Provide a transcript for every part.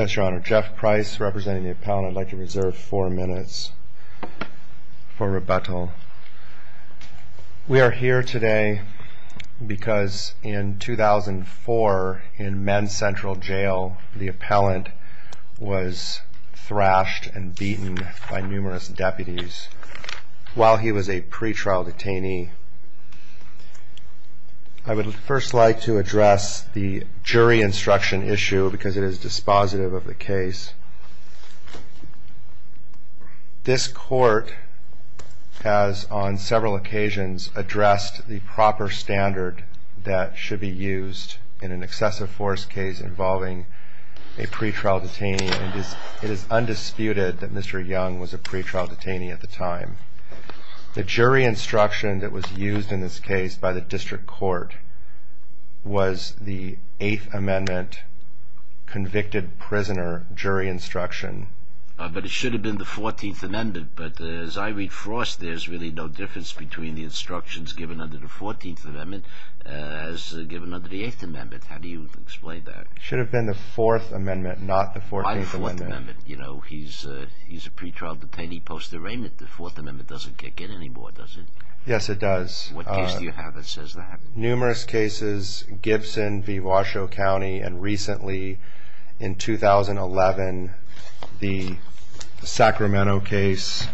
Jeff Price representing the appellant. I'd like to reserve four minutes for rebuttal. We are here today because in 2004 in Men's Central Jail, the appellant was thrashed and beaten by numerous deputies while he was a pretrial detainee. I would first like to address the jury instruction issue because it is dispositive of the case. This court has on several occasions addressed the proper standard that should be used in an excessive force case involving a pretrial detainee. It is undisputed that Mr. Young was a pretrial detainee at the time. The jury instruction that was used in this case by the district court was the 8th Amendment convicted prisoner jury instruction. But it should have been the 14th Amendment, but as I read Frost, there's really no difference between the instructions given under the 14th Amendment as given under the 8th Amendment. How do you explain that? It should have been the 4th Amendment, not the 14th Amendment. Why the 4th Amendment? He's a pretrial detainee post-arraignment. The 4th Amendment doesn't get any more, does it? Yes, it does. What case do you have that says that? Numerous cases, Gibson v. Washoe County, and recently in 2011, the Sacramento case,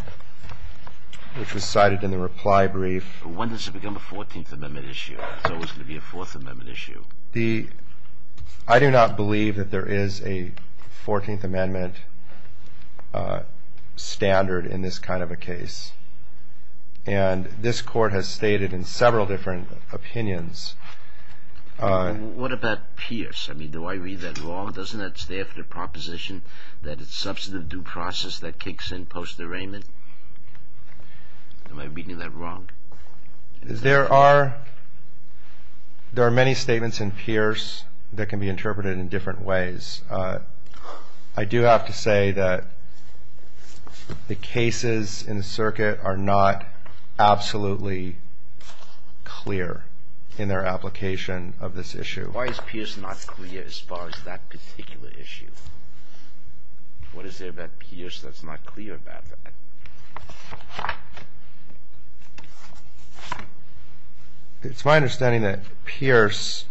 which was cited in the reply brief. When does it become a 14th Amendment issue? It's always going to be a 4th Amendment issue. I do not believe that there is a 14th Amendment standard in this kind of a case, and this court has stated in several different opinions. What about Pierce? I mean, do I read that wrong? Doesn't that stay after the proposition that it's substantive due process that kicks in post-arraignment? Am I reading that wrong? There are many statements in Pierce that can be interpreted in different ways. I do have to say that the cases in the circuit are not absolutely clear in their application of this issue. Why is Pierce not clear as far as that particular issue? What is there about Pierce that's not clear about that? It's my understanding that Pierce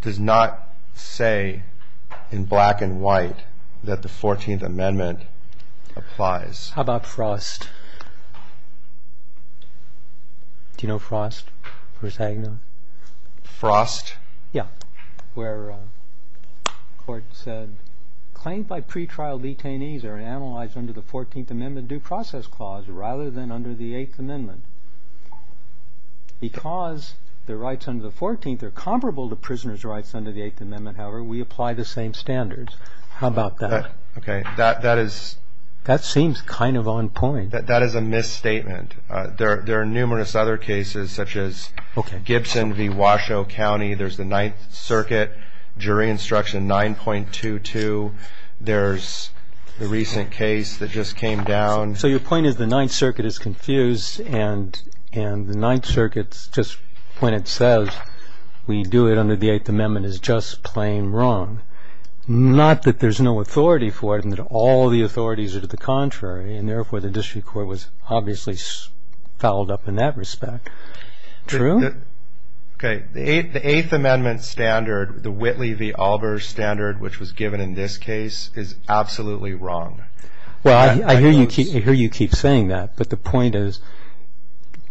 does not say in black and white that the 14th Amendment applies. How about Frost? Do you know Frost v. Agnew? Frost? Yeah, where the court said, claimed by pretrial detainees are analyzed under the 14th Amendment due process clause rather than under the 8th Amendment. Because the rights under the 14th are comparable to prisoners' rights under the 8th Amendment, however, we apply the same standards. How about that? That seems kind of on point. That is a misstatement. There are numerous other cases such as Gibson v. Washoe County. There's the Ninth Circuit jury instruction 9.22. There's the recent case that just came down. So your point is the Ninth Circuit is confused and the Ninth Circuit, just when it says we do it under the 8th Amendment, is just plain wrong. Not that there's no authority for it and that all the authorities are to the contrary, and therefore the district court was obviously fouled up in that respect. True? Okay. The 8th Amendment standard, the Whitley v. Albers standard, which was given in this case, is absolutely wrong. Well, I hear you keep saying that, but the point is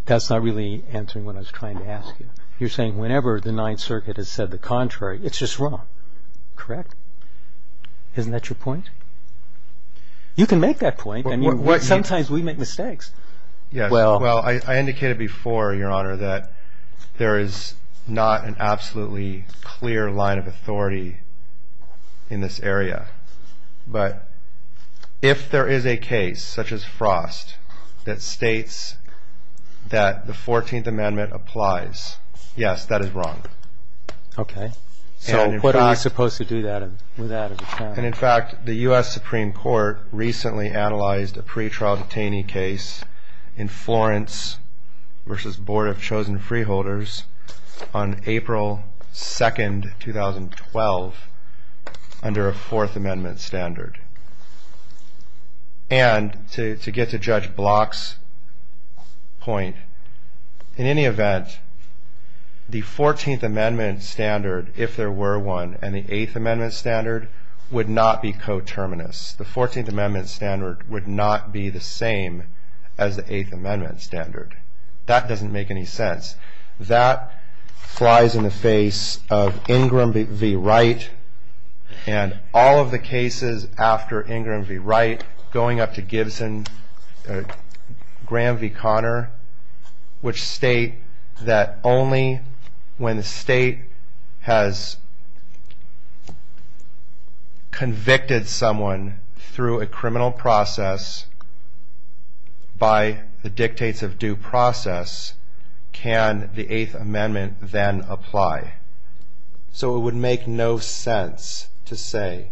that's not really answering what I was trying to ask you. You're saying whenever the Ninth Circuit has said the contrary, it's just wrong. Correct? Isn't that your point? You can make that point. Sometimes we make mistakes. Well, I indicated before, Your Honor, that there is not an absolutely clear line of authority in this area. But if there is a case such as Frost that states that the 14th Amendment applies, yes, that is wrong. Okay. So what are we supposed to do with that? And in fact, the U.S. Supreme Court recently analyzed a pretrial detainee case in Florence v. Board of Chosen Freeholders on April 2, 2012, under a Fourth Amendment standard. And to get to Judge Block's point, in any event, the 14th Amendment standard, if there were one, and the 8th Amendment standard would not be coterminous. The 14th Amendment standard would not be the same as the 8th Amendment standard. That doesn't make any sense. That flies in the face of Ingram v. Wright and all of the cases after Ingram v. Wright, going up to Gibson, Graham v. Conner, which state that only when the state has convicted someone through a criminal process by the dictates of due process can the 8th Amendment then apply. So it would make no sense to say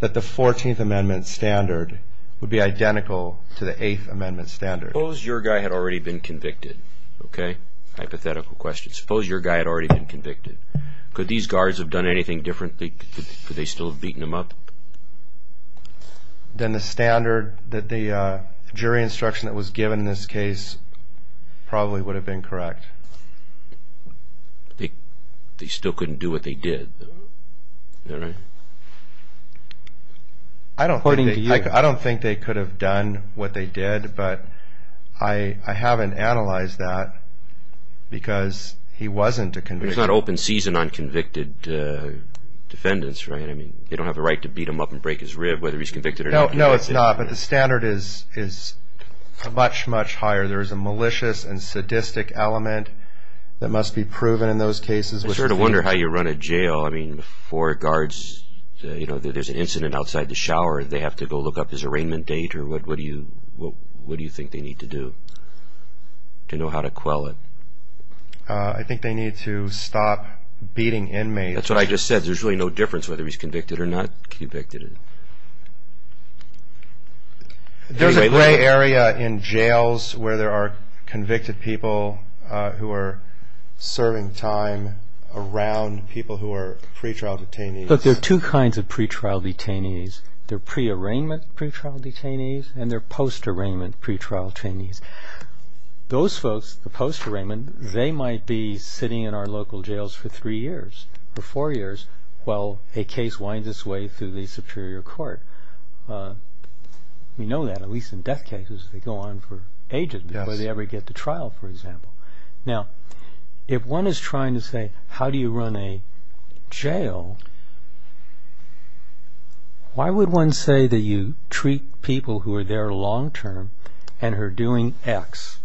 that the 14th Amendment standard would be identical to the 8th Amendment standard. Suppose your guy had already been convicted. Okay? Hypothetical question. Could these guards have done anything differently? Could they still have beaten him up? Then the standard that the jury instruction that was given in this case probably would have been correct. They still couldn't do what they did. I don't think they could have done what they did, but I haven't analyzed that because he wasn't a convict. It's not open season on convicted defendants, right? They don't have the right to beat him up and break his rib whether he's convicted or not. No, it's not, but the standard is much, much higher. There is a malicious and sadistic element that must be proven in those cases. I sort of wonder how you run a jail. Before guards, there's an incident outside the shower. They have to go look up his arraignment date. What do you think they need to do to know how to quell it? I think they need to stop beating inmates. That's what I just said. There's really no difference whether he's convicted or not convicted. There's a gray area in jails where there are convicted people who are serving time around people who are pretrial detainees. Look, there are two kinds of pretrial detainees. There are pre-arraignment pretrial detainees and there are post-arraignment pretrial detainees. Those folks, the post-arraignment, they might be sitting in our local jails for three years or four years while a case winds its way through the superior court. We know that, at least in death cases, they go on for ages before they ever get to trial, for example. Now, if one is trying to say, how do you run a jail, why would one say that you treat people who are there long-term and are doing X?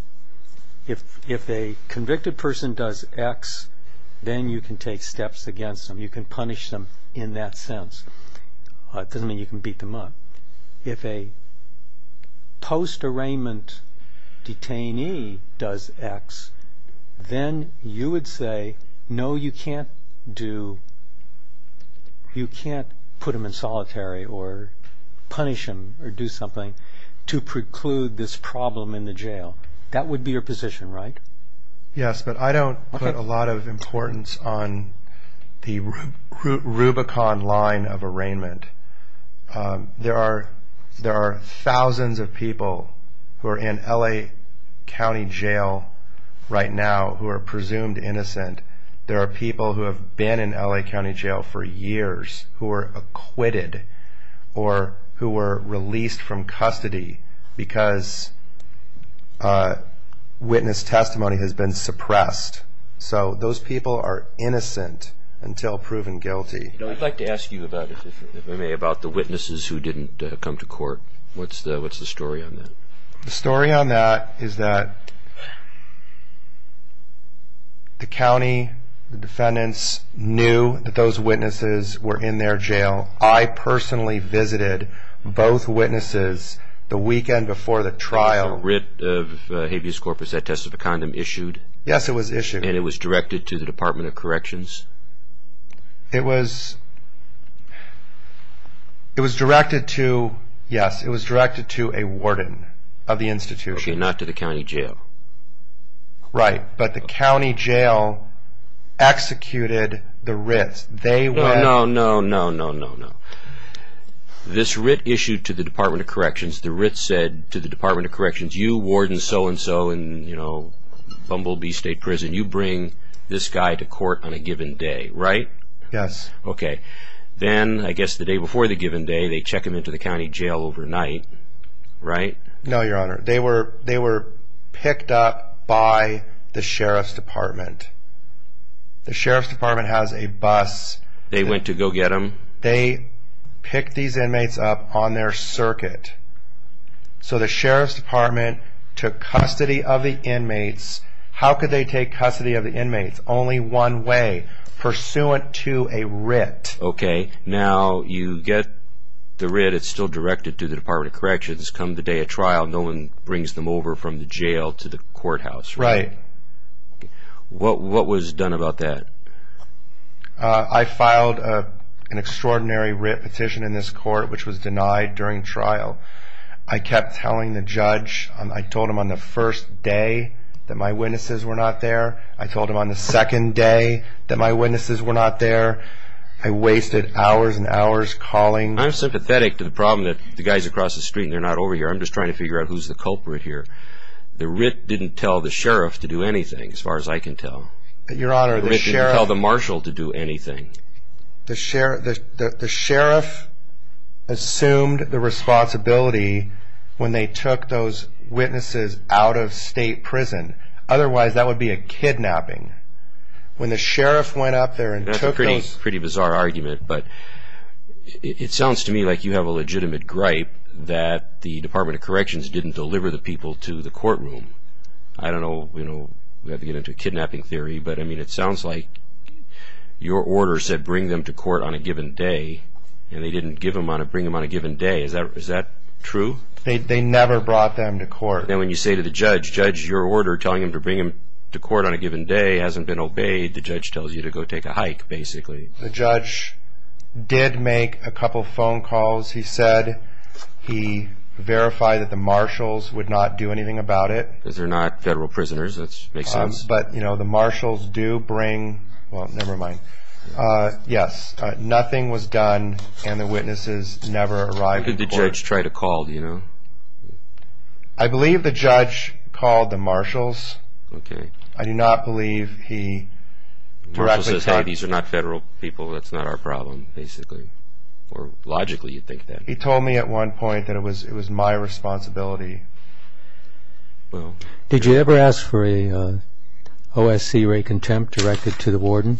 If a convicted person does X, then you can take steps against them. You can punish them in that sense. It doesn't mean you can beat them up. If a post-arraignment detainee does X, then you would say, no, you can't put them in solitary or punish them or do something to preclude this problem in the jail. That would be your position, right? Yes, but I don't put a lot of importance on the Rubicon line of arraignment. There are thousands of people who are in L.A. County Jail right now who are presumed innocent. There are people who have been in L.A. County Jail for years who were acquitted or who were released from custody because witness testimony has been suppressed. So those people are innocent until proven guilty. I'd like to ask you, if I may, about the witnesses who didn't come to court. What's the story on that? The story on that is that the county defendants knew that those witnesses were in their jail. I personally visited both witnesses the weekend before the trial. Was the writ of habeas corpus, that test of a condom, issued? Yes, it was issued. And it was directed to the Department of Corrections? It was directed to a warden of the institution. Okay, not to the county jail. Right, but the county jail executed the writs. No, no, no, no, no, no. This writ issued to the Department of Corrections. The writ said to the Department of Corrections, You warden so-and-so in Bumblebee State Prison. You bring this guy to court on a given day, right? Yes. Okay. Then, I guess the day before the given day, they check him into the county jail overnight, right? No, Your Honor. They were picked up by the Sheriff's Department. The Sheriff's Department has a bus. They went to go get him? They picked these inmates up on their circuit. So the Sheriff's Department took custody of the inmates. How could they take custody of the inmates? Only one way, pursuant to a writ. Okay, now you get the writ. It's still directed to the Department of Corrections. Come the day of trial, no one brings them over from the jail to the courthouse, right? Right. What was done about that? I filed an extraordinary writ petition in this court, which was denied during trial. I kept telling the judge. I told him on the first day that my witnesses were not there. I told him on the second day that my witnesses were not there. I wasted hours and hours calling. I'm sympathetic to the problem that the guy's across the street and they're not over here. I'm just trying to figure out who's the culprit here. The writ didn't tell the Sheriff to do anything, as far as I can tell. Your Honor, the Sheriff... The writ didn't tell the marshal to do anything. The Sheriff assumed the responsibility when they took those witnesses out of state prison. Otherwise, that would be a kidnapping. When the Sheriff went up there and took those... That's a pretty bizarre argument, but it sounds to me like you have a legitimate gripe that the Department of Corrections didn't deliver the people to the courtroom. I don't know. We have to get into a kidnapping theory, but it sounds like your order said bring them to court on a given day, and they didn't bring them on a given day. Is that true? They never brought them to court. Then when you say to the judge, Judge, your order telling them to bring them to court on a given day hasn't been obeyed. The judge tells you to go take a hike, basically. The judge did make a couple phone calls. He said he verified that the marshals would not do anything about it. Because they're not federal prisoners. That makes sense. But, you know, the marshals do bring... Well, never mind. Yes, nothing was done, and the witnesses never arrived in court. What did the judge try to call, do you know? I believe the judge called the marshals. Okay. I do not believe he correctly called... The marshal says, hey, these are not federal people. That's not our problem, basically. Logically, you'd think that. He told me at one point that it was my responsibility. Did you ever ask for an OSC rate contempt directed to the warden?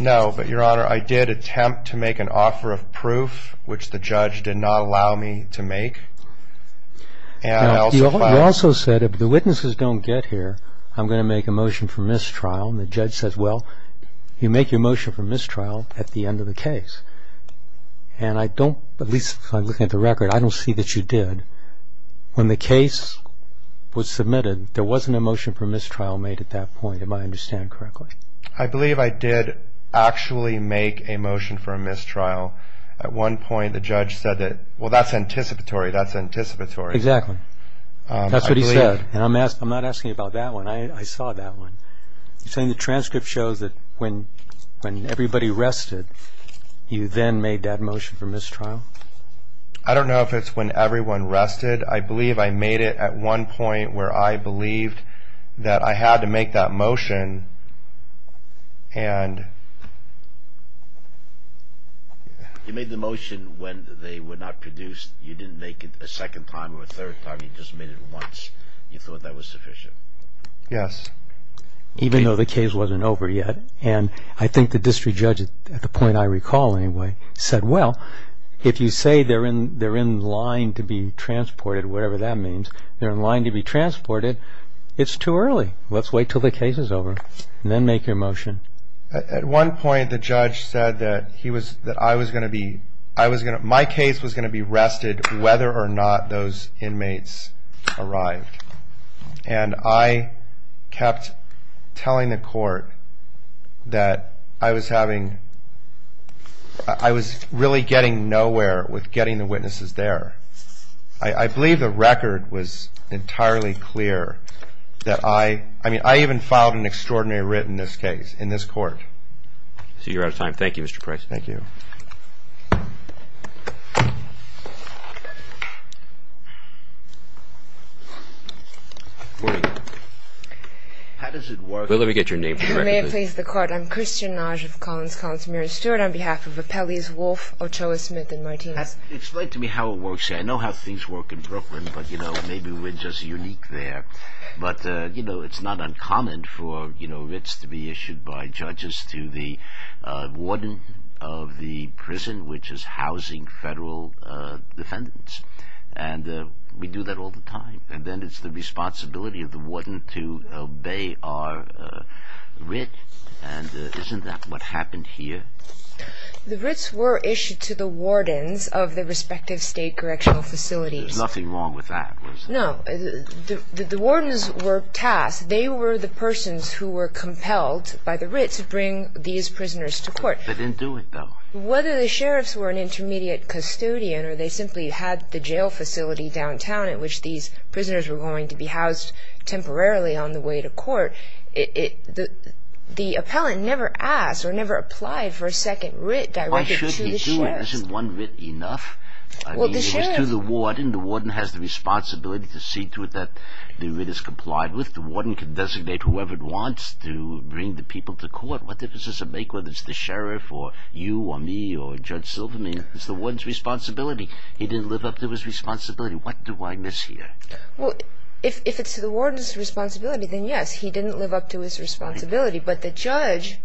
No, but, Your Honor, I did attempt to make an offer of proof, which the judge did not allow me to make. You also said, if the witnesses don't get here, I'm going to make a motion for mistrial. And the judge says, well, you make your motion for mistrial at the end of the case. And I don't, at least looking at the record, I don't see that you did. When the case was submitted, there wasn't a motion for mistrial made at that point, if I understand correctly. I believe I did actually make a motion for a mistrial. At one point, the judge said that, well, that's anticipatory, that's anticipatory. Exactly. That's what he said. I'm not asking about that one. I saw that one. You're saying the transcript shows that when everybody rested, you then made that motion for mistrial? I don't know if it's when everyone rested. I believe I made it at one point where I believed that I had to make that motion. You made the motion when they were not produced. You didn't make it a second time or a third time. You just made it once you thought that was sufficient. Yes. Even though the case wasn't over yet. And I think the district judge, at the point I recall anyway, said, well, if you say they're in line to be transported, whatever that means, they're in line to be transported, it's too early. Let's wait until the case is over and then make your motion. At one point, the judge said that he was, that I was going to be, my case was going to be rested whether or not those inmates arrived. And I kept telling the court that I was having, I was really getting nowhere with getting the witnesses there. I believe the record was entirely clear that I, I mean, I even filed an extraordinary writ in this case, in this court. You're out of time. Thank you, Mr. Price. Thank you. Good morning. How does it work? Well, let me get your name. You may have placed the court. I'm Christian Nagy of Collins Collins. Mary Stewart on behalf of Appellees Wolf, Ochoa Smith and Martinez. Explain to me how it works. I know how things work in Brooklyn, but, you know, maybe we're just unique there. But, you know, it's not uncommon for, you know, writs to be issued by judges to the warden of the prison, which is housing federal defendants. And we do that all the time. And then it's the responsibility of the warden to obey our writ. And isn't that what happened here? The writs were issued to the wardens of the respective state correctional facilities. There's nothing wrong with that, was there? No. The wardens were tasked. They were the persons who were compelled by the writ to bring these prisoners to court. They didn't do it, though. Whether the sheriffs were an intermediate custodian or they simply had the jail facility downtown at which these prisoners were going to be housed temporarily on the way to court, the appellant never asked or never applied for a second writ directed to the sheriffs. Why should he do it? Isn't one writ enough? I mean, it is to the warden. The warden has the responsibility to see to it that the writ is complied with. The warden can designate whoever it wants to bring the people to court. What difference does it make whether it's the sheriff or you or me or Judge Silverman? It's the warden's responsibility. He didn't live up to his responsibility. What do I miss here? Well, if it's the warden's responsibility, then yes, he didn't live up to his responsibility. But the judge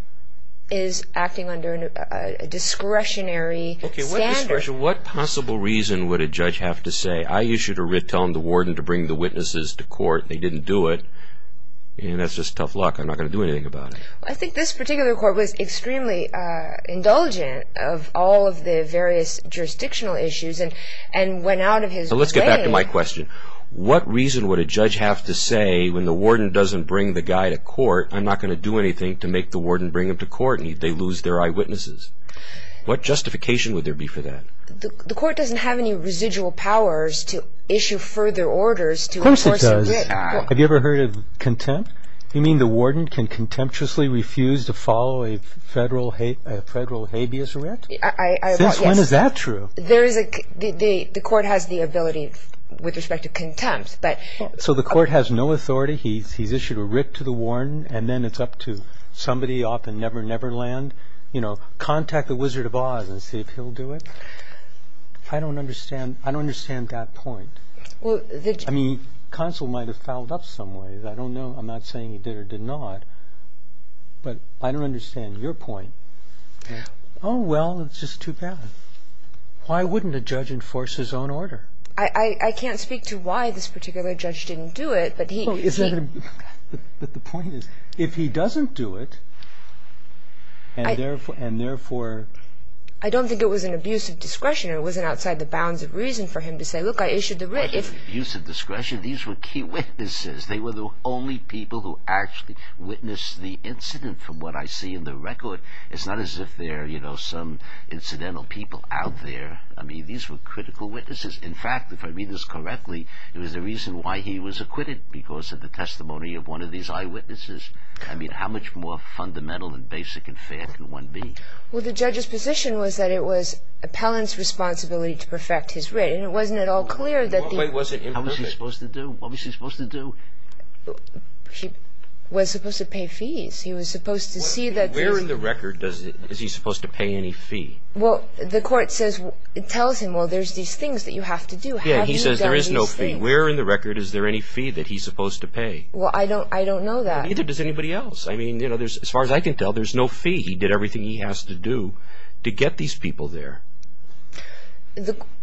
is acting under a discretionary standard. Okay, what discretion? What possible reason would a judge have to say, I issued a writ telling the warden to bring the witnesses to court and they didn't do it? That's just tough luck. I'm not going to do anything about it. I think this particular court was extremely indulgent of all of the various jurisdictional issues and went out of his way. Let's get back to my question. What reason would a judge have to say, when the warden doesn't bring the guy to court, I'm not going to do anything to make the warden bring him to court and they lose their eyewitnesses? What justification would there be for that? The court doesn't have any residual powers to issue further orders to enforce a writ. Of course it does. Have you ever heard of contempt? You mean the warden can contemptuously refuse to follow a federal habeas writ? Since when is that true? The court has the ability with respect to contempt. So the court has no authority. He's issued a writ to the warden and then it's up to somebody off in Never Never Land, you know, contact the Wizard of Oz and see if he'll do it? I don't understand that point. I mean, counsel might have fouled up some way. I don't know. I'm not saying he did or did not. But I don't understand your point. Oh, well, it's just too bad. Why wouldn't a judge enforce his own order? I can't speak to why this particular judge didn't do it, but he... But the point is, if he doesn't do it, and therefore... I don't think it was an abuse of discretion. It wasn't outside the bounds of reason for him to say, look, I issued the writ. Abuse of discretion? These were key witnesses. They were the only people who actually witnessed the incident from what I see in the record. It's not as if there are some incidental people out there. I mean, these were critical witnesses. In fact, if I read this correctly, it was the reason why he was acquitted, because of the testimony of one of these eyewitnesses. I mean, how much more fundamental and basic and fair can one be? Well, the judge's position was that it was appellant's responsibility to perfect his writ. And it wasn't at all clear that the... What was he supposed to do? He was supposed to pay fees. He was supposed to see that... Where in the record is he supposed to pay any fee? Well, the court says, it tells him, well, there's these things that you have to do. Yeah, he says there is no fee. Where in the record is there any fee that he's supposed to pay? Well, I don't know that. Neither does anybody else. I mean, as far as I can tell, there's no fee. He did everything he has to do to get these people there.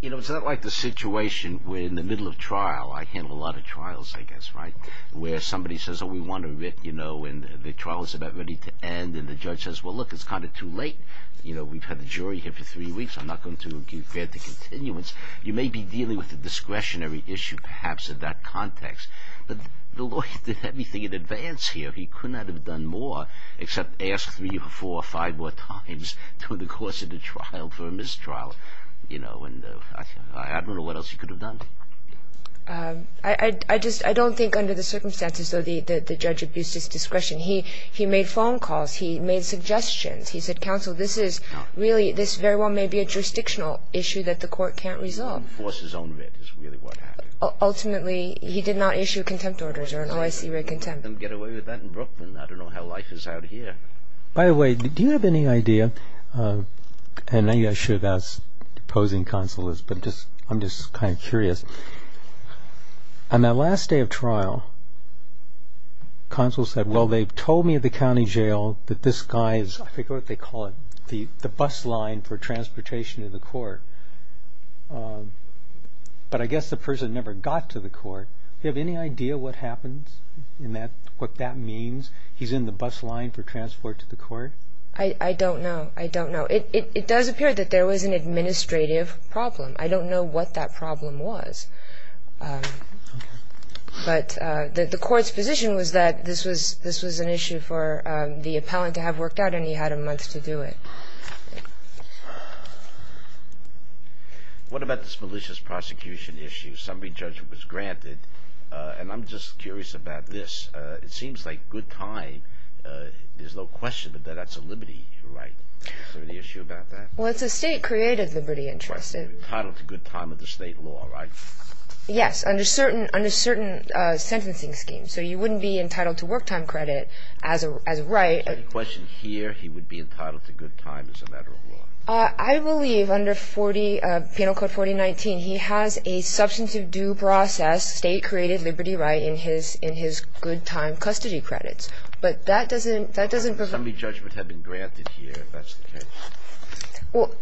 You know, it's not like the situation where in the middle of trial, I handle a lot of trials, I guess, right, where somebody says, oh, we want a writ, you know, and the trial is about ready to end, and the judge says, well, look, it's kind of too late. You know, we've had the jury here for three weeks. I'm not going to grant a continuance. You may be dealing with a discretionary issue, perhaps, in that context. But the lawyer did everything in advance here. He could not have done more except ask three or four or five more times through the course of the trial for a mistrial. You know, and I don't know what else he could have done. I just don't think under the circumstances, though, the judge abused his discretion. He made phone calls. He made suggestions. He said, counsel, this is really, this very well may be a jurisdictional issue that the court can't resolve. Enforce his own writ is really what happened. Ultimately, he did not issue contempt orders or an OIC writ contempt. Get away with that in Brooklyn. I don't know how life is out here. By the way, do you have any idea, and maybe I should ask opposing counselors, but I'm just kind of curious, on that last day of trial, counsel said, well, they told me at the county jail that this guy is, I forget what they call it, the bus line for transportation to the court. But I guess the person never got to the court. Do you have any idea what happens and what that means? He's in the bus line for transport to the court? I don't know. I don't know. It does appear that there was an administrative problem. I don't know what that problem was. But the court's position was that this was an issue for the appellant to have worked out and he had a month to do it. What about this malicious prosecution issue? Somebody's judgment was granted. And I'm just curious about this. It seems like good time, there's no question that that's a liberty right. Is there an issue about that? Well, it's a state-created liberty interest. Entitled to good time under state law, right? Yes, under certain sentencing schemes. So you wouldn't be entitled to work time credit as a right. Is there any question here he would be entitled to good time as a matter of law? I believe under Penal Code 4019 he has a substantive due process, a state-created liberty right in his good time custody credits. But that doesn't prove it. Somebody's judgment had been granted here if that's the case. Well,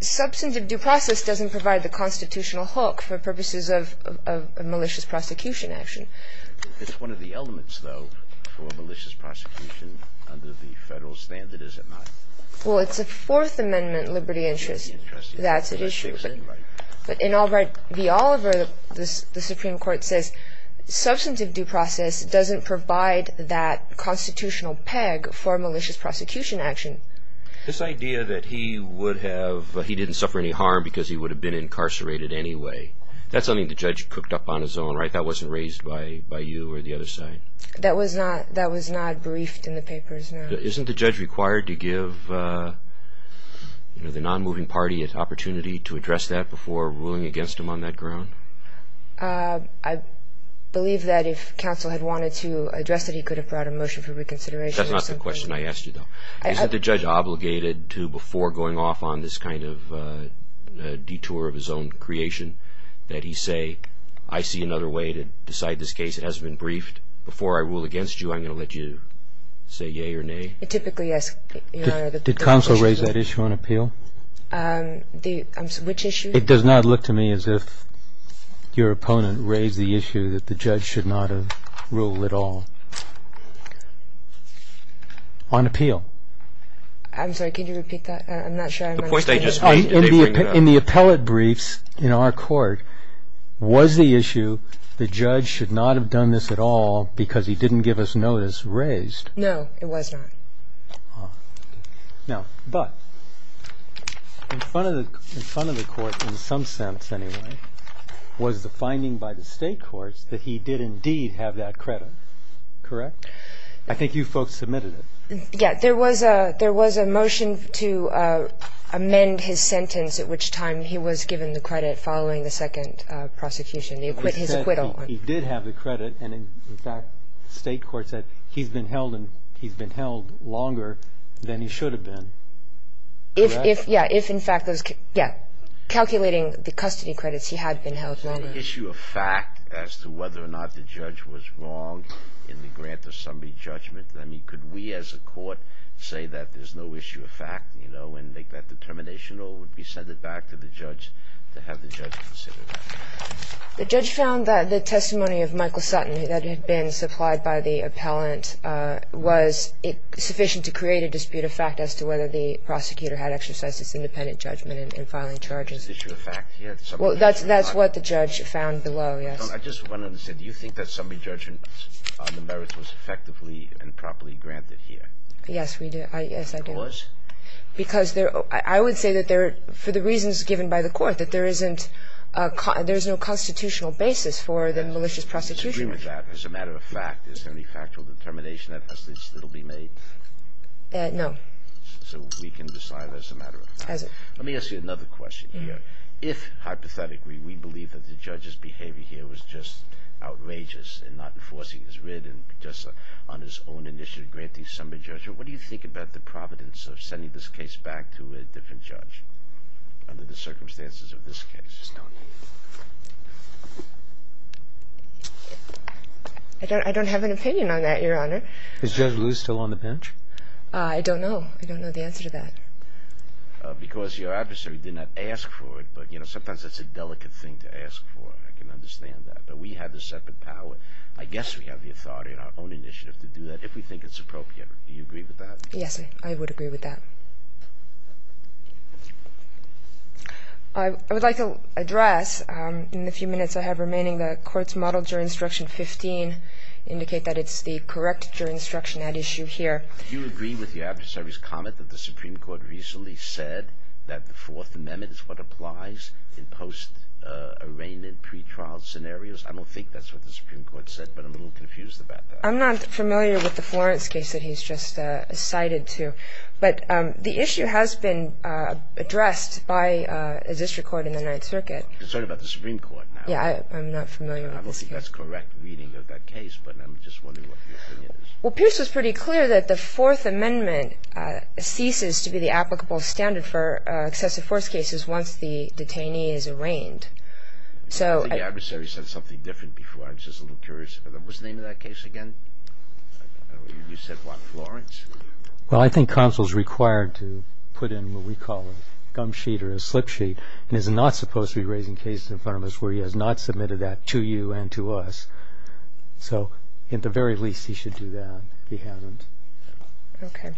substantive due process doesn't provide the constitutional hook for purposes of malicious prosecution action. It's one of the elements, though, for malicious prosecution under the federal standard, is it not? Well, it's a Fourth Amendment liberty interest. That's at issue. But in Albright v. Oliver, the Supreme Court says substantive due process doesn't provide that constitutional peg for malicious prosecution action. This idea that he didn't suffer any harm because he would have been incarcerated anyway, that's something the judge cooked up on his own, right? That wasn't raised by you or the other side? That was not briefed in the papers, no. Isn't the judge required to give the non-moving party an opportunity to address that before ruling against him on that ground? I believe that if counsel had wanted to address it, he could have brought a motion for reconsideration. That's not the question I asked you, though. Isn't the judge obligated to, before going off on this kind of detour of his own creation, that he say, I see another way to decide this case. It hasn't been briefed. Before I rule against you, I'm going to let you say yea or nay. Typically, yes. Did counsel raise that issue on appeal? Which issue? It does not look to me as if your opponent raised the issue that the judge should not have ruled at all on appeal. I'm sorry, can you repeat that? I'm not sure I understand. In the appellate briefs in our court, was the issue the judge should not have done this at all because he didn't give us notice raised? No, it was not. But in front of the court, in some sense anyway, was the finding by the state courts that he did indeed have that credit, correct? I think you folks submitted it. Yes. There was a motion to amend his sentence at which time he was given the credit following the second prosecution, his acquittal. He did have the credit, and in fact, the state court said he's been held longer than he should have been, correct? Yes, calculating the custody credits, he had been held longer. Is there an issue of fact as to whether or not the judge was wrong in the grant of summary judgment? I mean, could we as a court say that there's no issue of fact, you know, and make that determination? Or would we send it back to the judge to have the judge consider that? The judge found that the testimony of Michael Sutton that had been supplied by the appellant was sufficient to create a dispute of fact as to whether the prosecutor had exercised his independent judgment in filing charges. Is there an issue of fact here? Well, that's what the judge found below, yes. I just wanted to say, do you think that summary judgment on the merits was effectively and properly granted here? Yes, we do. Yes, I do. Because? Because I would say that for the reasons given by the court, that there is no constitutional basis for the malicious prosecution. Do you agree with that? As a matter of fact, is there any factual determination that will be made? No. So we can decide as a matter of fact. As a matter of fact. Let me ask you another question here. If, hypothetically, we believe that the judge's behavior here was just outrageous and not enforcing his writ and just on his own initiative granting summary judgment, what do you think about the providence of sending this case back to a different judge under the circumstances of this case? I don't have an opinion on that, Your Honor. Is Judge Liu still on the bench? I don't know. I don't know the answer to that. Because your adversary did not ask for it. But, you know, sometimes that's a delicate thing to ask for. I can understand that. But we have the separate power. I guess we have the authority on our own initiative to do that if we think it's appropriate. Do you agree with that? Yes, I would agree with that. I would like to address, in the few minutes I have remaining, the court's model juror instruction 15 indicate that it's the correct juror instruction at issue here. Do you agree with your adversary's comment that the Supreme Court recently said that the Fourth Amendment is what applies in post-arraignment pretrial scenarios? I don't think that's what the Supreme Court said, but I'm a little confused about that. I'm not familiar with the Florence case that he's just cited to. But the issue has been addressed by a district court in the Ninth Circuit. I'm concerned about the Supreme Court now. Yeah, I'm not familiar with this case. I don't think that's correct reading of that case, but I'm just wondering what your opinion is. Well, Pierce was pretty clear that the Fourth Amendment ceases to be the applicable standard for excessive force cases once the detainee is arraigned. I think the adversary said something different before. I'm just a little curious. Was the name of that case again? You said what, Florence? Well, I think counsel is required to put in what we call a gum sheet or a slip sheet and is not supposed to be raising cases in front of us where he has not submitted that to you and to us. So at the very least, he should do that if he hasn't. Okay.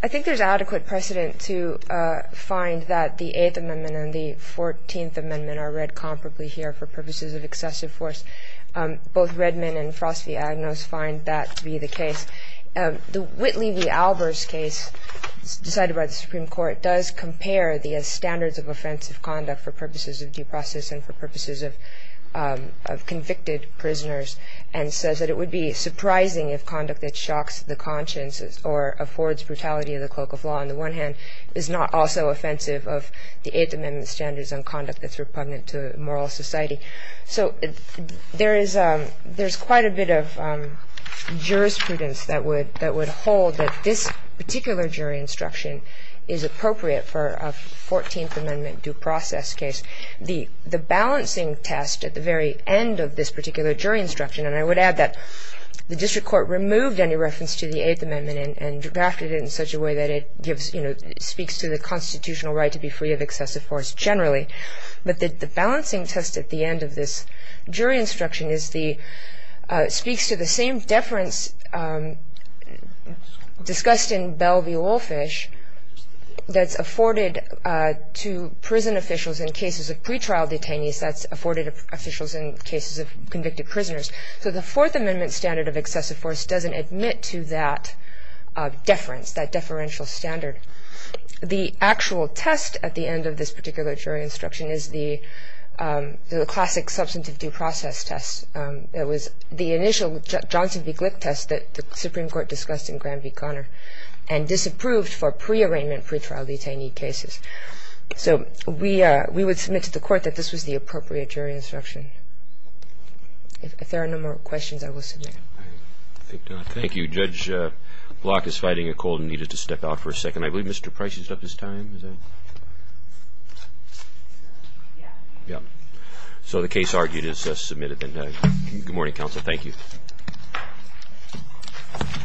I think there's adequate precedent to find that the Eighth Amendment and the Fourteenth Amendment are read comparably here for purposes of excessive force. Both Redman and Frost v. Agnos find that to be the case. The Whitley v. Albers case decided by the Supreme Court does compare the standards of offensive conduct for purposes of due process and for purposes of convicted prisoners and says that it would be surprising if conduct that shocks the conscience or affords brutality of the cloak of law, on the one hand, is not also offensive of the Eighth Amendment standards on conduct that's repugnant to moral society. So there's quite a bit of jurisprudence that would hold that this particular jury instruction is appropriate for a Fourteenth Amendment due process case. The balancing test at the very end of this particular jury instruction, and I would add that the district court removed any reference to the Eighth Amendment and drafted it in such a way that it speaks to the constitutional right to be free of excessive force generally. But the balancing test at the end of this jury instruction speaks to the same deference discussed in Bell v. Woolfish that's afforded to prison officials in cases of pretrial detainees, that's afforded to officials in cases of convicted prisoners. So the Fourth Amendment standard of excessive force doesn't admit to that deference, that deferential standard. The actual test at the end of this particular jury instruction is the classic substantive due process test. It was the initial Johnson v. Glick test that the Supreme Court discussed in Graham v. Conner and disapproved for prearrangement pretrial detainee cases. So we would submit to the court that this was the appropriate jury instruction. If there are no more questions, I will submit. Thank you. Judge Block is fighting a cold and needed to step out for a second. I believe Mr. Price is up this time. So the case argued is submitted. Good morning, counsel. Thank you. Thank you.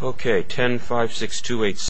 Okay, 10-56287.